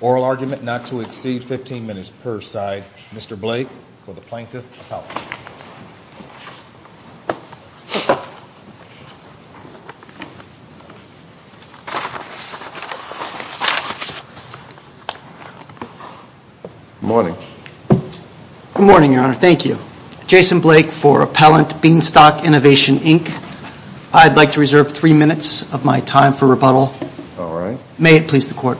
Oral argument not to exceed 15 minutes per side. Mr. Blake, for the Plaintiff Appellate. Good morning. Good morning, Your Honor. Thank you. Jason Blake for Appellant Beanstalk Innovation Inc. I'd like to reserve three minutes of my time for rebuttal. All right. May it please the Court.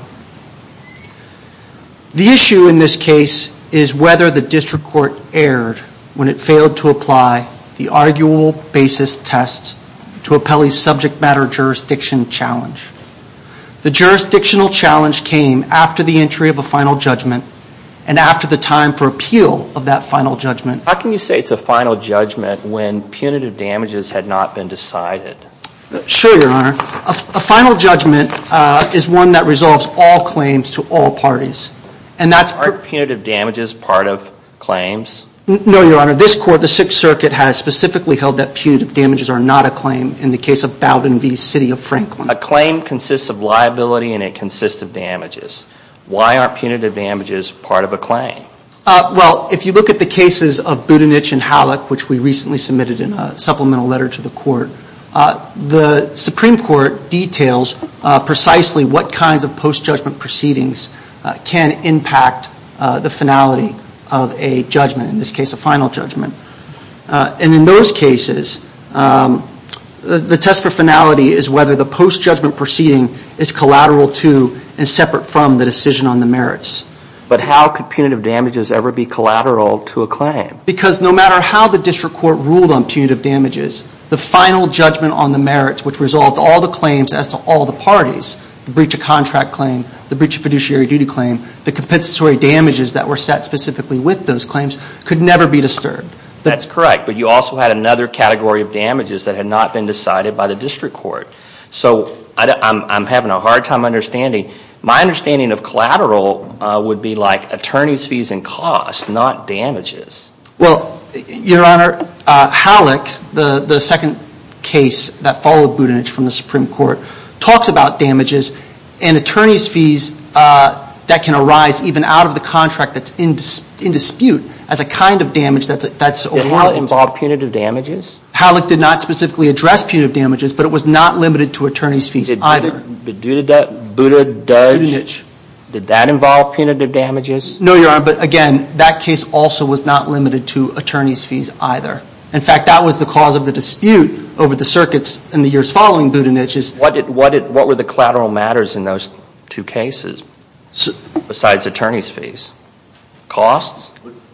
The issue in this case is whether the District Court erred when it failed to apply the arguable basis test to Appellee's subject matter jurisdiction challenge. The jurisdictional challenge came after the entry of a final judgment and after the time for appeal of that final judgment. How can you say it's a final judgment when punitive damages had not been decided? Sure, Your Honor. A final judgment is one that resolves all claims to all parties. And that's... Are punitive damages part of claims? No, Your Honor. This Court, the Sixth Circuit, has specifically held that punitive damages are not a claim in the case of Bowdoin v. City of Franklin. A claim consists of liability and it consists of damages. Why aren't punitive damages part of a claim? Well, if you look at the cases of Budenich and Hallock, which we recently submitted in a supplemental letter to the Court, the Supreme Court details precisely what kinds of post-judgment proceedings can impact the finality of a judgment, in this case a final judgment. And in those cases, the test for finality is whether the post-judgment proceeding is collateral to and separate from the decision on the merits. But how can punitive damages ever be collateral to a claim? Because no matter how the District Court ruled on punitive damages, the final judgment on the merits, which resolved all the claims as to all the parties, the breach of contract claim, the breach of fiduciary duty claim, the compensatory damages that were set specifically with those claims could never be disturbed. That's correct. But you also had another category of damages that had not been decided by the District Court. So I'm having a hard time understanding. My understanding of collateral would be like attorney's fees and costs, not damages. Well, Your Honor, Hallock, the second case that followed Budenich from the Supreme Court, talks about damages and attorney's fees that can arise even out of the contract that's in dispute as a kind of damage that's ordered. Did Hallock involve punitive damages? Hallock did not specifically address punitive damages, but it was not limited to attorney's fees. But did that involve punitive damages? No, Your Honor. But again, that case also was not limited to attorney's fees either. In fact, that was the cause of the dispute over the circuits in the years following Budenich. What were the collateral matters in those two cases besides attorney's fees? Costs?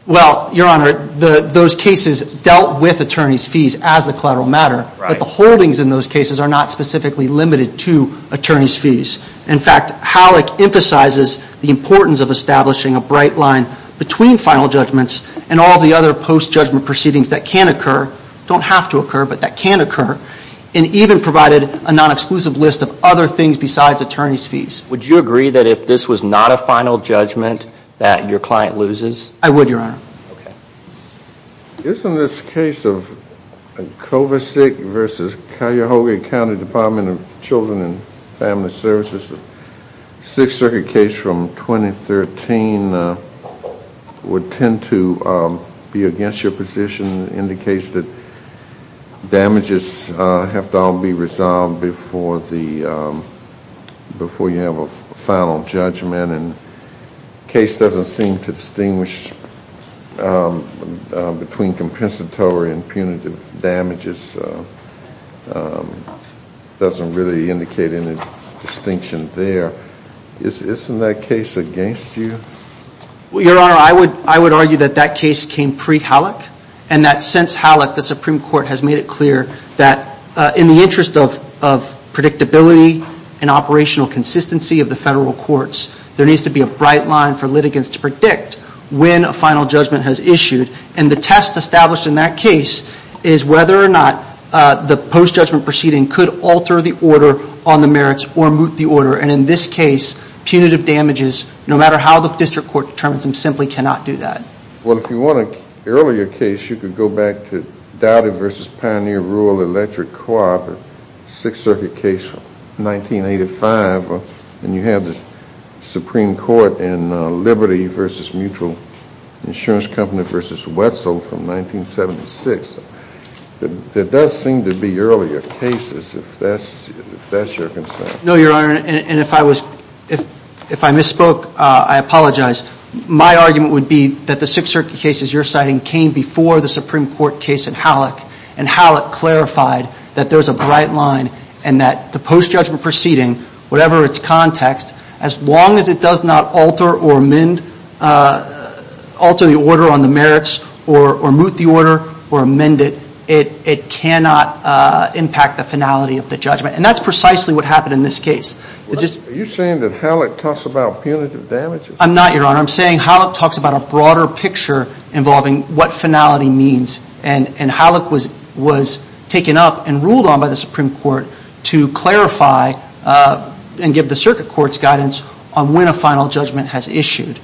Well, Your Honor, those cases dealt with attorney's fees as the collateral matter, but the holdings in those cases are not specifically limited to attorney's fees. In fact, Hallock emphasizes the importance of establishing a bright line between final judgments and all the other post-judgment proceedings that can occur, don't have to occur, but that can occur, and even provided a non-exclusive list of other things besides attorney's fees. Would you agree that if this was not a final judgment that your client loses? I would, Your Honor. Okay. Isn't this case of Kovacic v. Cuyahoga County Department of Children and Family Services, a Sixth Circuit case from 2013, would tend to be against your position in the case that damages have to all be resolved before you have a final judgment, and the case doesn't seem to distinguish between compensatory and punitive damages, doesn't really indicate any distinction there. Isn't that case against you? Well, Your Honor, I would argue that that case came pre-Hallock, and that since Hallock, the Supreme Court has made it clear that in the interest of predictability and operational consistency of the federal courts, there needs to be a bright line for litigants to predict when a final judgment has issued, and the test established in that case is whether or not the post-judgment proceeding could alter the order on the merits or moot the order, and in this case, punitive damages, no matter how the district court determines them, simply cannot do that. Well, if you want an earlier case, you could go back to Dowdy v. Pioneer Rural Electric Co-op, a Sixth Circuit case from 1985, and you have the Supreme Court in Liberty v. Mutual Insurance Company v. Wetzel from 1976. There does seem to be earlier cases, if that's your concern. No, Your Honor, and if I misspoke, I apologize. My argument would be that the Sixth Circuit cases you're citing came before the Supreme Court case in Hallock, and Hallock clarified that there's a bright line and that the post-judgment proceeding, whatever its context, as long as it does not alter or amend, alter the order on the merits or moot the order or amend it, it cannot impact the finality of the judgment, and that's precisely what happened in this case. Are you saying that Hallock talks about punitive damages? I'm not, Your Honor. I'm saying Hallock talks about a broader picture involving what finality means, and Hallock was taken up and ruled on by the Supreme Court to clarify and give the Circuit Court's guidance on when a final judgment has issued.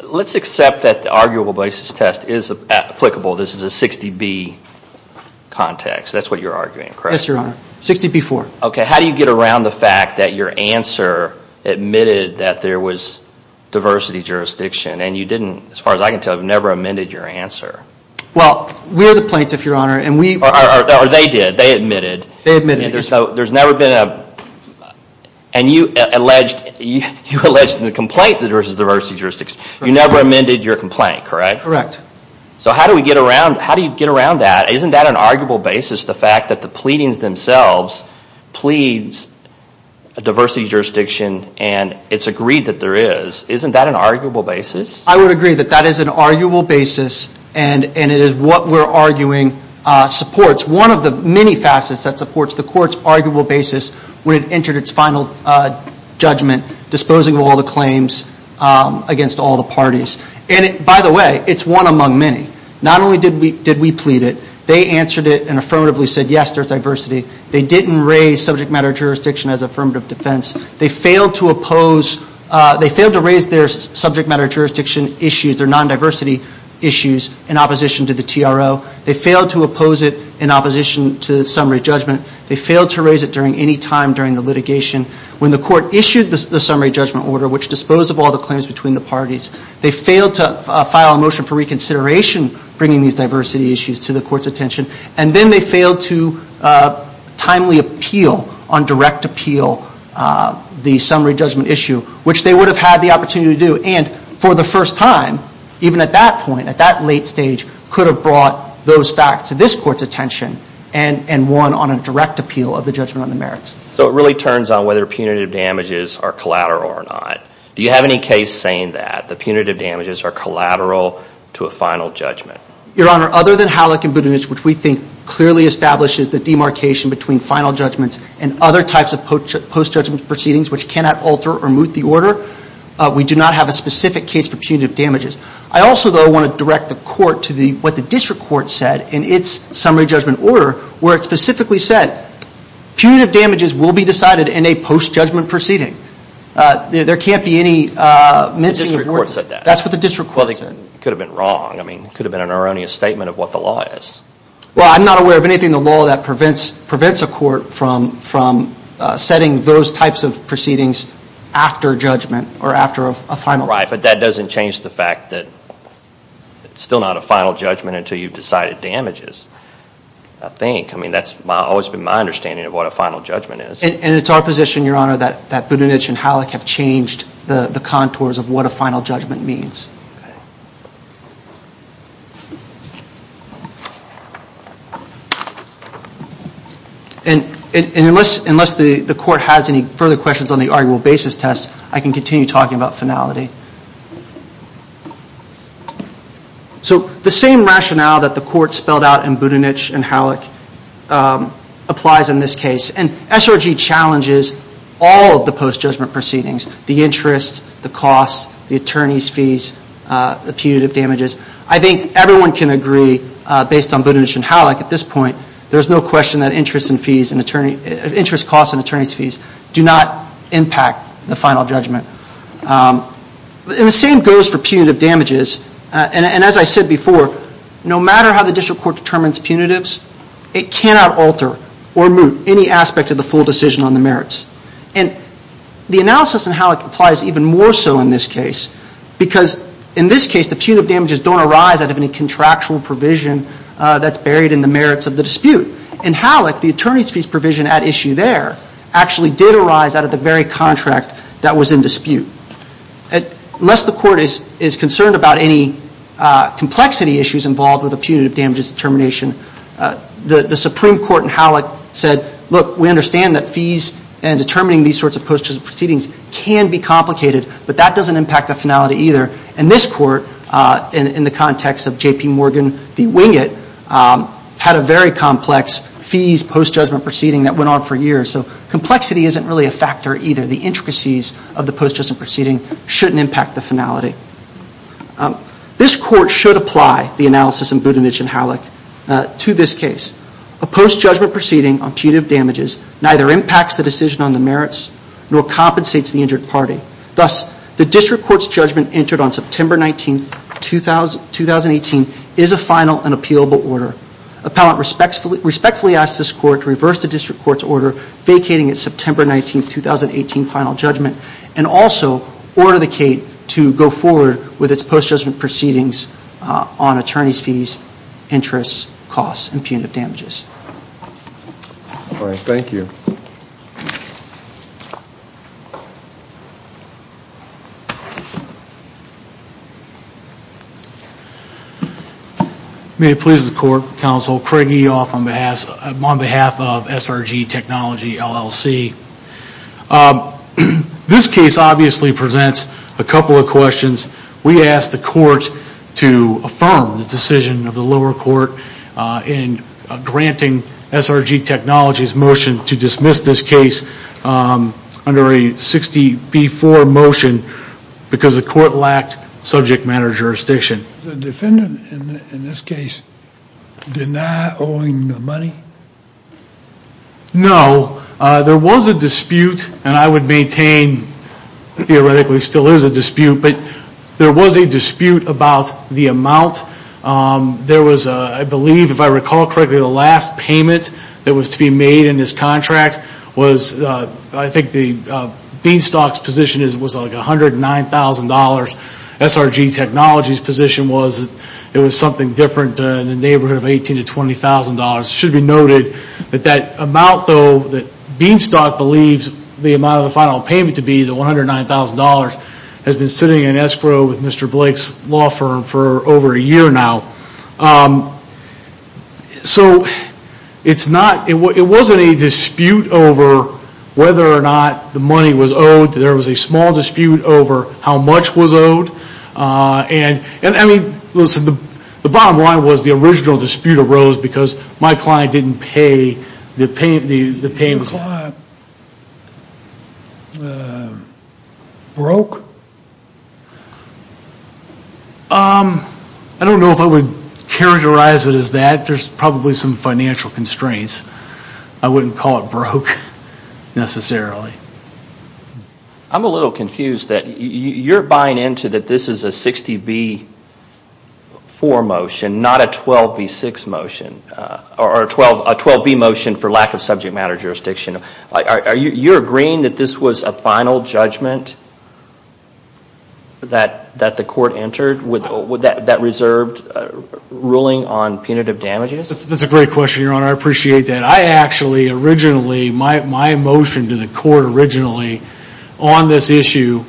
Let's accept that the arguable basis test is applicable. This is a 60B context. That's what you're arguing, correct? Yes, Your Honor. 60B-4. Okay. How do you get around the fact that your answer admitted that there was diversity jurisdiction, and you didn't, as far as I can tell, have never amended your answer? Well, we're the plaintiff, Your Honor, and we... Or they did. They admitted. They admitted. There's never been a... And you alleged in the complaint that there was diversity jurisdiction. You never amended your complaint, correct? Correct. So how do you get around that? Isn't that an arguable basis, the fact that the pleadings themselves pleads a diversity jurisdiction and it's agreed that there is? Isn't that an arguable basis? I would agree that that is an arguable basis, and it is what we're arguing supports one of the many facets that supports the Court's arguable basis when it entered its final judgment disposing of all the claims against all the parties. And by the way, it's one among many. Not only did we plead it, they answered it and affirmatively said, yes, there's diversity. They didn't raise subject matter jurisdiction as affirmative defense. They failed to oppose... They failed to raise their subject matter jurisdiction issues, their non-diversity issues in opposition to the TRO. They failed to oppose it in opposition to the summary judgment. They failed to raise it during any time during the litigation. When the Court issued the summary judgment order, which disposed of all the claims between the parties, they failed to file a motion for reconsideration bringing these diversity issues to the Court's attention. And then they failed to timely appeal on direct appeal the summary judgment issue, which they would have had the opportunity to do. And for the first time, even at that point, at that late stage, could have brought those facts to this Court's attention and won on a direct appeal of the judgment on the merits. So it really turns on whether punitive damages are collateral or not. Do you have any case saying that the punitive damages are collateral to a final judgment? Your Honor, other than Howlick and Budunich, which we think clearly establishes the demarcation between final judgments and other types of post-judgment proceedings which cannot alter or moot the order, we do not have a specific case for punitive damages. I also, though, want to direct the Court to what the District Court said in its summary judgment order, where it specifically said, punitive damages will be decided in a post-judgment proceeding. There can't be any mincing of words. The District Court said that. That's what the District Court said. Well, they could have been wrong. I mean, it could have been an erroneous statement of what the law is. Well, I'm not aware of anything in the law that prevents a court from setting those types of proceedings after judgment or after a final judgment. Right, but that doesn't change the fact that it's still not a final judgment until you've decided damages, I think. I mean, that's always been my understanding of what a final judgment is. And it's our position, Your Honor, that Budenich and Halleck have changed the contours of what a final judgment means. And unless the Court has any further questions on the arguable basis test, I can continue talking about finality. So the same rationale that the Court spelled out in Budenich and Halleck applies in this case. It challenges all of the post-judgment proceedings. The interest, the costs, the attorney's fees, the punitive damages. I think everyone can agree, based on Budenich and Halleck at this point, there's no question that interest costs and attorney's fees do not impact the final judgment. And the same goes for punitive damages. And as I said before, no matter how the District Court determines punitives, it cannot alter or moot any aspect of the full decision on the merits. And the analysis in Halleck applies even more so in this case, because in this case the punitive damages don't arise out of any contractual provision that's buried in the merits of the dispute. In Halleck, the attorney's fees provision at issue there actually did arise out of the very contract that was in dispute. Unless the Court is concerned about any complexity issues involved with a punitive damages determination, the Supreme Court in Halleck said, look, we understand that fees and determining these sorts of post-judgment proceedings can be complicated, but that doesn't impact the finality either. And this Court, in the context of J.P. Morgan v. Wingate, had a very complex fees post-judgment proceeding that went on for years. So complexity isn't really a factor either. The intricacies of the post-judgment proceeding shouldn't impact the finality. This Court should apply the analysis in Budanich and Halleck to this case. A post-judgment proceeding on punitive damages neither impacts the decision on the merits nor compensates the injured party. Thus, the District Court's judgment entered on September 19, 2018 is a final and appealable order. Appellant respectfully asks this Court to reverse the District Court's order vacating its September 19, 2018 final judgment and also order the case to go forward with its post-judgment proceedings on attorney's fees, interest, costs, and punitive damages. Thank you. May it please the Court, Counsel Craig Eoff on behalf of SRG Technology, LLC. This case obviously presents a couple of questions. We ask the Court to affirm the decision of the lower court in granting SRG Technology's motion to dismiss this case under a 60-B-4 motion because the Court lacked subject matter jurisdiction. Does the defendant in this case deny owing the money? No. There was a dispute and I would maintain theoretically still is a dispute, but there was a dispute about the amount. There was, I believe if I recall correctly, the last payment that was to be made in this contract was, I think Beanstalk's position was $109,000, SRG Technology's position was it was something different in the neighborhood of $18,000 to $20,000. Should be noted that that amount though that Beanstalk believes the amount of the final payment to be, the $109,000, has been sitting in escrow with Mr. Blake's law firm for over a year now. So it's not, it wasn't a dispute over whether or not the money was owed. There was a small dispute over how much was owed and I mean, listen, the bottom line was the original dispute arose because my client didn't pay, the payment's... Broke? I don't know if I would characterize it as that. There's probably some financial constraints. I wouldn't call it broke necessarily. I'm a little confused that you're buying into that this is a 60B4 motion, not a 12B6 motion or a 12B motion for lack of subject matter jurisdiction. Are you agreeing that this was a final judgment that the court entered that reserved a ruling on punitive damages? That's a great question, Your Honor. I appreciate that. I actually, originally, my motion to the court originally on this issue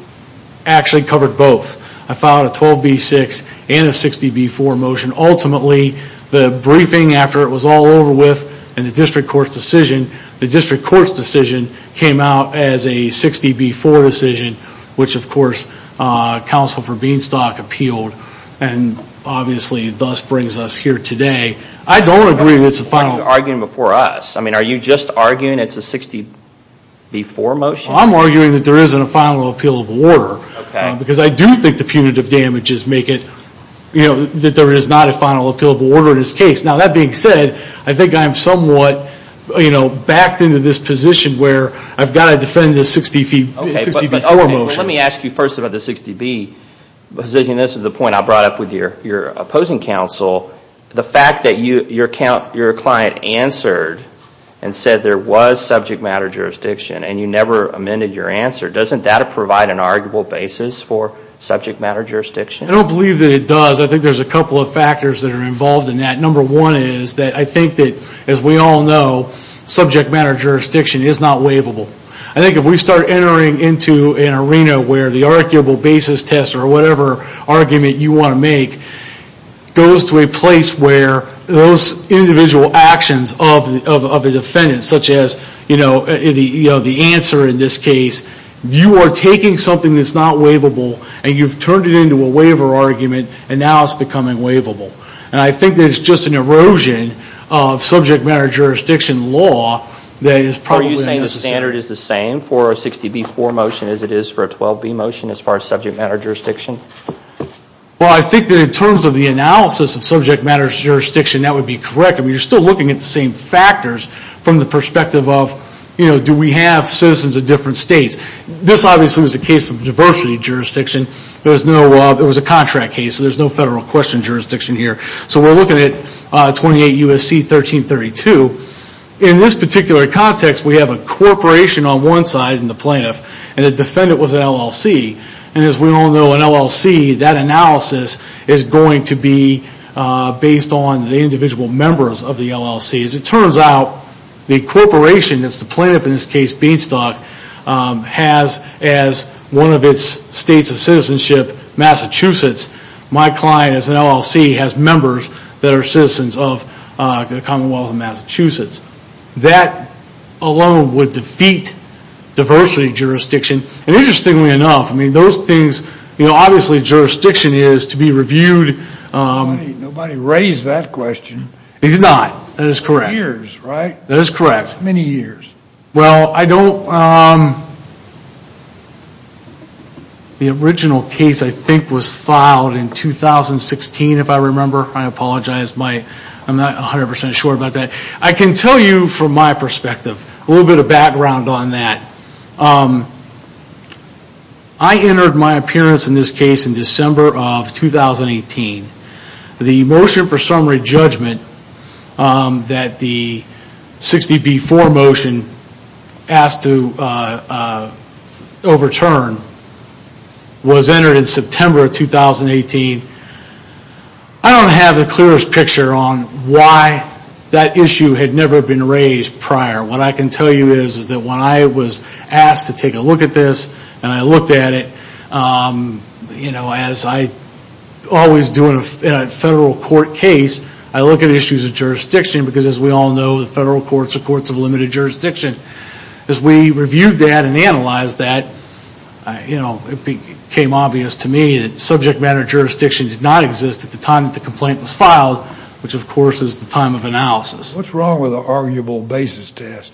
actually covered both. I filed a 12B6 and a 60B4 motion. Ultimately, the briefing after it was all over with and the district court's decision, the district court's decision came out as a 60B4 decision, which, of course, counsel for Beanstalk appealed and obviously thus brings us here today. I don't agree that it's a final... Are you arguing before us? I mean, are you just arguing it's a 60B4 motion? I'm arguing that there isn't a final appealable order because I do think the punitive damages make it that there is not a final appealable order in this case. That being said, I think I'm somewhat backed into this position where I've got to defend this 60B4 motion. Okay, but let me ask you first about the 60B position. This is the point I brought up with your opposing counsel. The fact that your client answered and said there was subject matter jurisdiction and you never amended your answer, doesn't that provide an arguable basis for subject matter jurisdiction? I don't believe that it does. I think there's a couple of factors that are involved in that. Number one is that I think that, as we all know, subject matter jurisdiction is not waivable. I think if we start entering into an arena where the arguable basis test or whatever argument you want to make goes to a place where those individual actions of a defendant, such as the answer in this case, you are taking something that's not waivable and you've turned it into a waiver argument and now it's becoming waivable. I think there's just an erosion of subject matter jurisdiction law that is probably necessary. Are you saying the standard is the same for a 60B4 motion as it is for a 12B motion as far as subject matter jurisdiction? Well, I think that in terms of the analysis of subject matter jurisdiction, that would be correct. I mean, you're still looking at the same factors from the perspective of, you know, do we have citizens of different states? This obviously was a case of diversity jurisdiction. It was a contract case, so there's no federal question jurisdiction here. So we're looking at 28 U.S.C. 1332. In this particular context, we have a corporation on one side and the plaintiff and the defendant was an LLC. And as we all know, an LLC, that analysis is going to be based on the individual members of the LLC. As it turns out, the corporation, that's the plaintiff in this case, Beanstalk, has as one of its states of citizenship Massachusetts. My client as an LLC has members that are citizens of the Commonwealth of Massachusetts. That alone would defeat diversity jurisdiction. And interestingly enough, I mean, those things, you know, obviously jurisdiction is to be reviewed. Nobody raised that question. He did not. That is correct. Years, right? That is correct. Many years. Well, I don't, the original case I think was filed in 2016, if I remember. I apologize. I'm not 100% sure about that. I can tell you from my perspective, a little bit of background on that. I entered my appearance in this case in December of 2018. The motion for summary judgment that the 60B4 motion asked to overturn was entered in September of 2018. I don't have the clearest picture on why that issue had never been raised prior. What I can tell you is, is that when I was asked to take a look at this, and I looked at a federal court case, I look at issues of jurisdiction, because as we all know, the federal courts are courts of limited jurisdiction. As we reviewed that and analyzed that, you know, it became obvious to me that subject matter jurisdiction did not exist at the time that the complaint was filed, which of course is the time of analysis. What's wrong with the arguable basis test?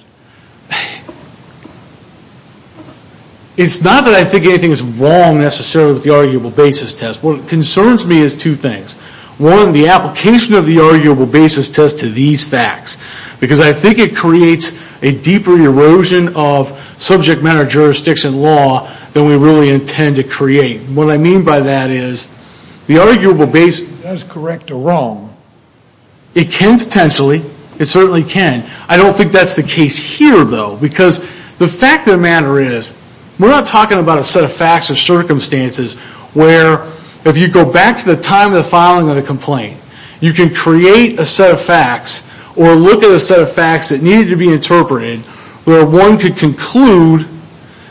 It's not that I think anything is wrong necessarily with the arguable basis test. What concerns me is two things. One, the application of the arguable basis test to these facts, because I think it creates a deeper erosion of subject matter jurisdiction law than we really intend to create. What I mean by that is, the arguable basis test, correct or wrong, it can potentially, it certainly can. I don't think that's the case here though, because the fact of the matter is, we're not talking about a set of facts or circumstances where, if you go back to the time of the filing of the complaint, you can create a set of facts, or look at a set of facts that needed to be interpreted, where one could conclude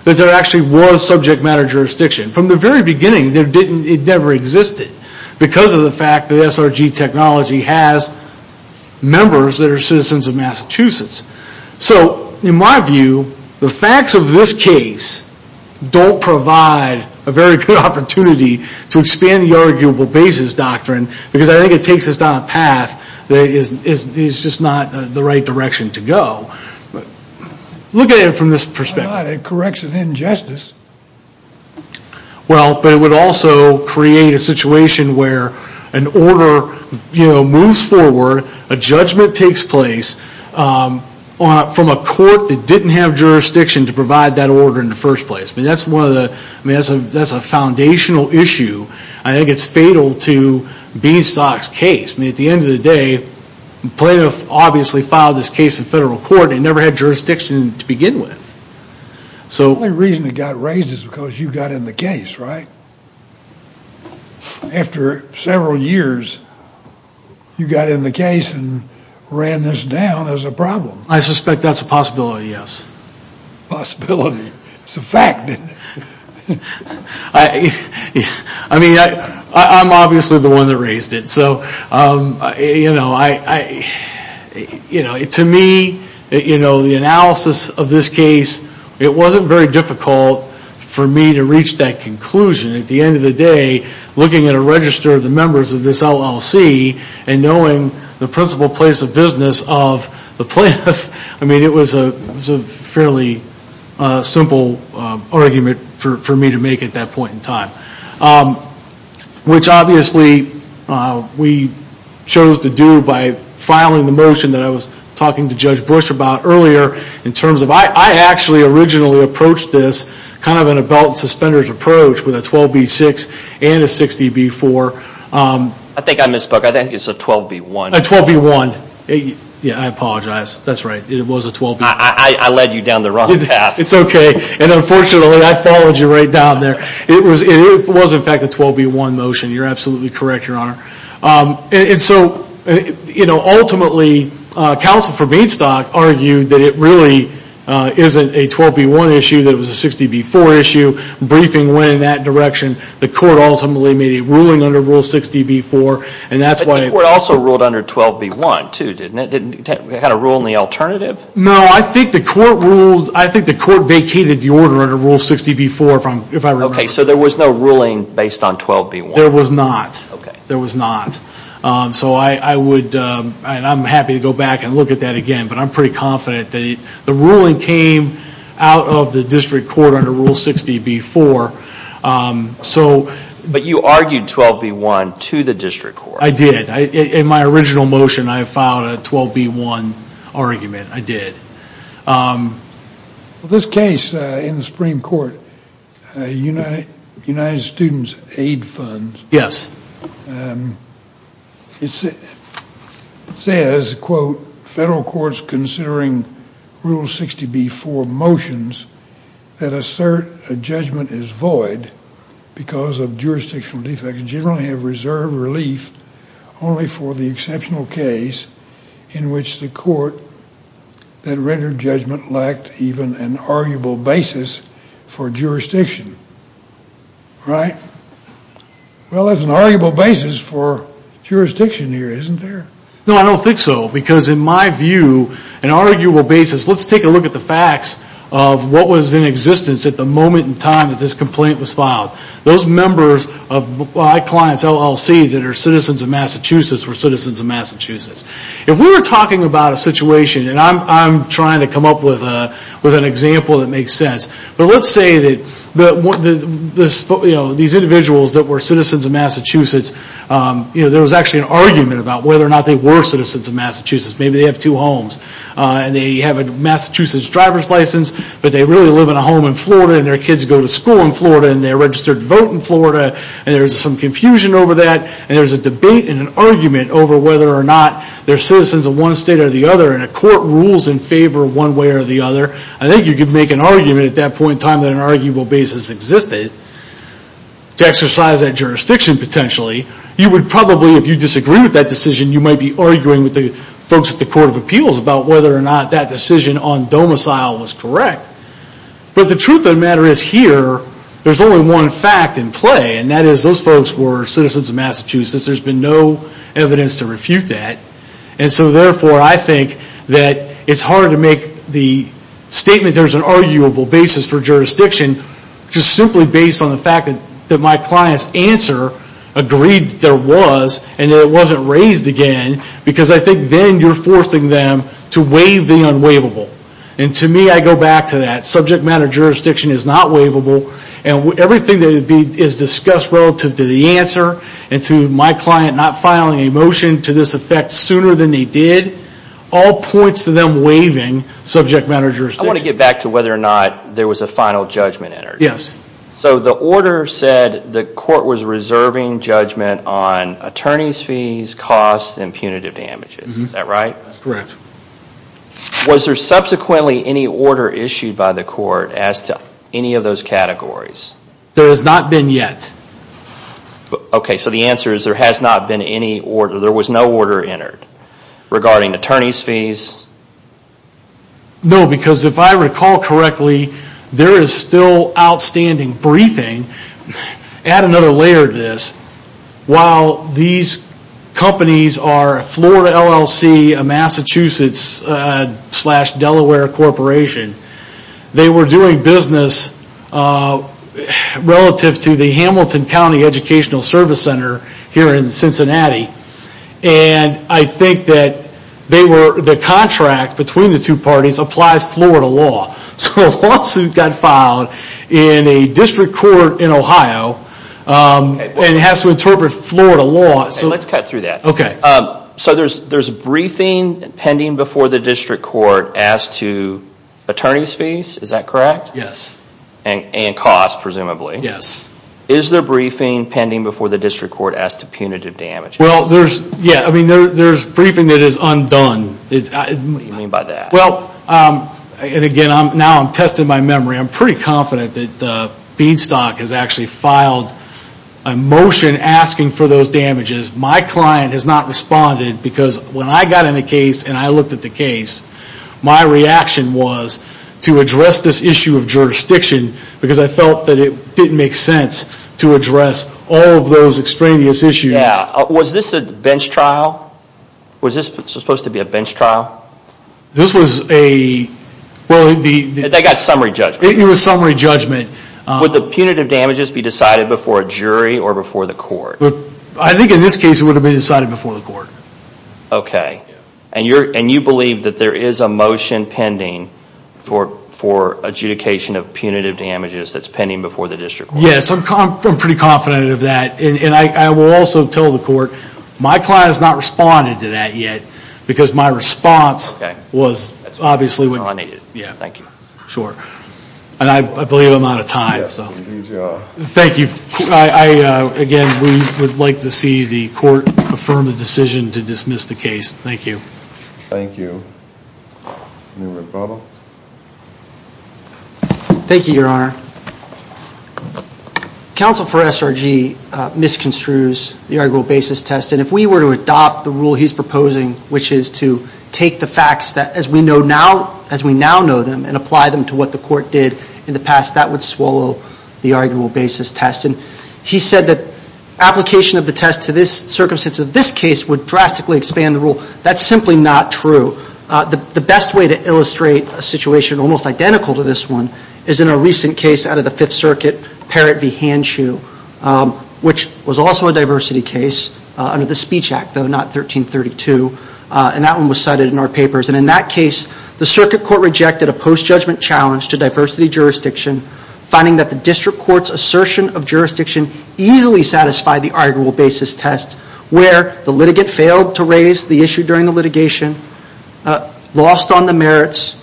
that there actually was subject matter jurisdiction. From the very beginning, it never existed, because of the fact that SRG Technology has members that are citizens of Massachusetts. So, in my view, the facts of this case don't provide a very good opportunity to expand the arguable basis doctrine, because I think it takes us down a path that is just not the right direction to go. Look at it from this perspective. It corrects an injustice. Well, but it would also create a situation where an order moves forward, a judgment takes place from a court that didn't have jurisdiction to provide that order in the first place. That's one of the, that's a foundational issue. I think it's fatal to Beanstalk's case. At the end of the day, plaintiff obviously filed this case in federal court and never had jurisdiction to begin with. So the only reason it got raised is because you got in the case, right? After several years, you got in the case and ran this down as a problem. I suspect that's a possibility, yes. Possibility. It's a fact. I mean, I'm obviously the one that raised it, so, you know, to me, you know, the analysis of this case, it wasn't very difficult for me to reach that conclusion. At the end of the day, looking at a register of the members of this LLC and knowing the principal place of business of the plaintiff, I mean, it was a fairly simple argument for me to make at that point in time. Which obviously we chose to do by filing the motion that I was talking to Judge Bush about earlier in terms of, I actually originally approached this kind of in a belt and suspenders approach with a 12B6 and a 60B4. I think I misspoke. I think it's a 12B1. A 12B1. Yeah, I apologize. That's right. It was a 12B1. I led you down the wrong path. It's okay. And unfortunately, I followed you right down there. It was in fact a 12B1 motion. You're absolutely correct, Your Honor. And so ultimately, counsel for Bainstock argued that it really isn't a 12B1 issue, that it was a 60B4 issue. Briefing went in that direction. The court ultimately made a ruling under Rule 60B4. And that's why... The court also ruled under 12B1, too, didn't it? Didn't it have a rule in the alternative? No. I think the court ruled... I think the court vacated the order under Rule 60B4, if I remember correctly. Okay. So there was no ruling based on 12B1? There was not. Okay. There was not. So I would... And I'm happy to go back and look at that again, but I'm pretty confident that the ruling came out of the district court under Rule 60B4, so... But you argued 12B1 to the district court. I did. In my original motion, I filed a 12B1 argument, I did. Well, this case in the Supreme Court, United Students Aid Funds... Yes. It says, quote, federal courts considering Rule 60B4 motions that assert a judgment is void because of jurisdictional defects generally have reserved relief only for the exceptional case in which the court that rendered judgment lacked even an arguable basis for jurisdiction. Right? Well, there's an arguable basis for jurisdiction here, isn't there? No, I don't think so, because in my view, an arguable basis... Let's take a look at the facts of what was in existence at the moment in time that this complaint was filed. Those members of my client's LLC that are citizens of Massachusetts were citizens of Massachusetts. If we were talking about a situation, and I'm trying to come up with an example that individuals that were citizens of Massachusetts, there was actually an argument about whether or not they were citizens of Massachusetts, maybe they have two homes, and they have a Massachusetts driver's license, but they really live in a home in Florida, and their kids go to school in Florida, and they're registered to vote in Florida, and there's some confusion over that, and there's a debate and an argument over whether or not they're citizens of one state or the other, and a court rules in favor one way or the other. I think you could make an argument at that point in time that an arguable basis existed to exercise that jurisdiction, potentially. You would probably, if you disagree with that decision, you might be arguing with the folks at the Court of Appeals about whether or not that decision on domicile was correct. But the truth of the matter is here, there's only one fact in play, and that is those folks were citizens of Massachusetts. There's been no evidence to refute that, and so therefore, I think that it's hard to make the statement there's an arguable basis for jurisdiction just simply based on the fact that my client's answer agreed that there was, and that it wasn't raised again, because I think then you're forcing them to waive the unwaivable, and to me, I go back to that. Subject matter jurisdiction is not waivable, and everything that is discussed relative to the answer, and to my client not filing a motion to this effect sooner than they did, all points to them waiving subject matter jurisdiction. I want to get back to whether or not there was a final judgment entered. Yes. So the order said the court was reserving judgment on attorney's fees, costs, and punitive damages. Is that right? That's correct. Was there subsequently any order issued by the court as to any of those categories? There has not been yet. Okay, so the answer is there has not been any order. There was no order entered regarding attorney's fees. No, because if I recall correctly, there is still outstanding briefing. Add another layer to this. While these companies are Florida LLC, a Massachusetts slash Delaware corporation, they were doing business relative to the Hamilton County Educational Service Center here in Cincinnati, and I think that the contract between the two parties applies Florida law. So a lawsuit got filed in a district court in Ohio, and it has to interpret Florida law. Let's cut through that. So there's a briefing pending before the district court as to attorney's fees, is that correct? Yes. And costs, presumably. Yes. Is there briefing pending before the district court as to punitive damages? Well, there's briefing that is undone. What do you mean by that? Well, and again, now I'm testing my memory. I'm pretty confident that Beanstalk has actually filed a motion asking for those damages. My client has not responded because when I got in the case and I looked at the case, my reaction was to address this issue of jurisdiction because I felt that it didn't make sense to address all of those extraneous issues. Yeah. Was this a bench trial? Was this supposed to be a bench trial? This was a... Well, the... They got summary judgment. It was summary judgment. Would the punitive damages be decided before a jury or before the court? I think in this case it would have been decided before the court. Okay. And you believe that there is a motion pending for adjudication of punitive damages that's pending before the district court? Yes. I'm pretty confident of that. And I will also tell the court my client has not responded to that yet because my response was obviously... Okay. That's all I needed. Yeah. Thank you. Sure. And I believe I'm out of time. Yes. Good job. Thank you. I, again, we would like to see the court affirm a decision to dismiss the case. Thank you. Thank you. Any more problems? Thank you, Your Honor. Counsel for SRG misconstrues the arguable basis test and if we were to adopt the rule he's proposing, which is to take the facts that as we now know them and apply them to what the court did in the past, that would swallow the arguable basis test. And he said that application of the test to this circumstance of this case would drastically expand the rule. That's simply not true. The best way to illustrate a situation almost identical to this one is in a recent case out of the Fifth Circuit, Parrott v. Hanchu, which was also a diversity case under the Speech Act, though not 1332, and that one was cited in our papers. And in that case, the circuit court rejected a post-judgment challenge to diversity jurisdiction finding that the district court's assertion of jurisdiction easily satisfied the arguable basis test where the litigant failed to raise the issue during the litigation, lost on the merits,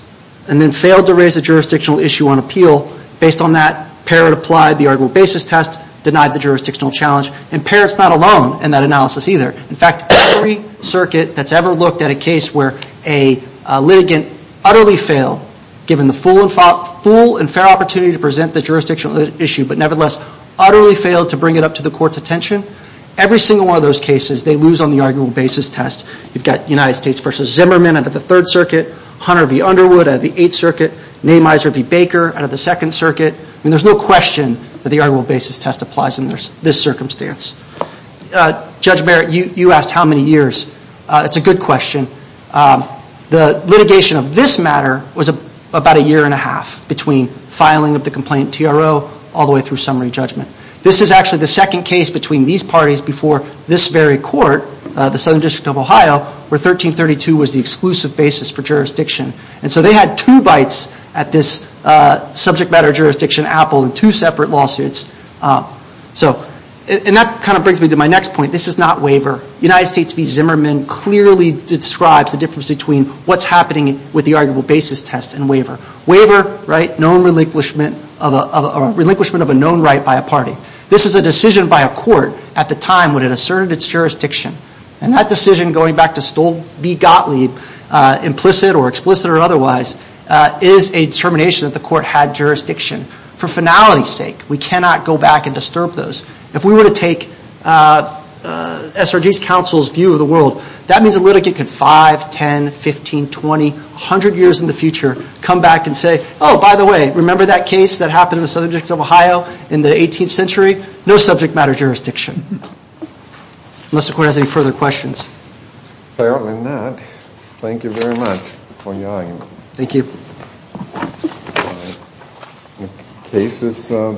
and then failed to raise the jurisdictional issue on appeal. Based on that, Parrott applied the arguable basis test, denied the jurisdictional challenge, and Parrott's not alone in that analysis either. In fact, every circuit that's ever looked at a case where a litigant utterly failed given the full and fair opportunity to present the jurisdictional issue, but nevertheless, utterly failed to bring it up to the court's attention, every single one of those cases they lose on the arguable basis test. You've got United States v. Zimmerman out of the Third Circuit, Hunter v. Underwood out of the Eighth Circuit, Namizer v. Baker out of the Second Circuit. I mean, there's no question that the arguable basis test applies in this circumstance. Judge Barrett, you asked how many years. It's a good question. The litigation of this matter was about a year and a half between filing of the complaint TRO all the way through summary judgment. This is actually the second case between these parties before this very court, the Southern District of Ohio, where 1332 was the exclusive basis for jurisdiction. And so they had two bites at this subject matter jurisdiction apple in two separate lawsuits. And that kind of brings me to my next point. This is not waiver. United States v. Zimmerman clearly describes the difference between what's happening with the arguable basis test and waiver. Waiver, known relinquishment of a known right by a party. This is a decision by a court at the time when it asserted its jurisdiction. And that decision, going back to Stolte v. Gottlieb, implicit or explicit or otherwise, is a determination that the court had jurisdiction. For finality's sake, we cannot go back and disturb those. If we were to take SRG's counsel's view of the world, that means a litigant can 5, 10, 15, 20, 100 years in the future, come back and say, oh, by the way, remember that case that happened in the Southern District of Ohio in the 18th century? No subject matter jurisdiction. Unless the court has any further questions. Apparently not. Thank you very much for your argument. Thank you. All right. The case is adjourned.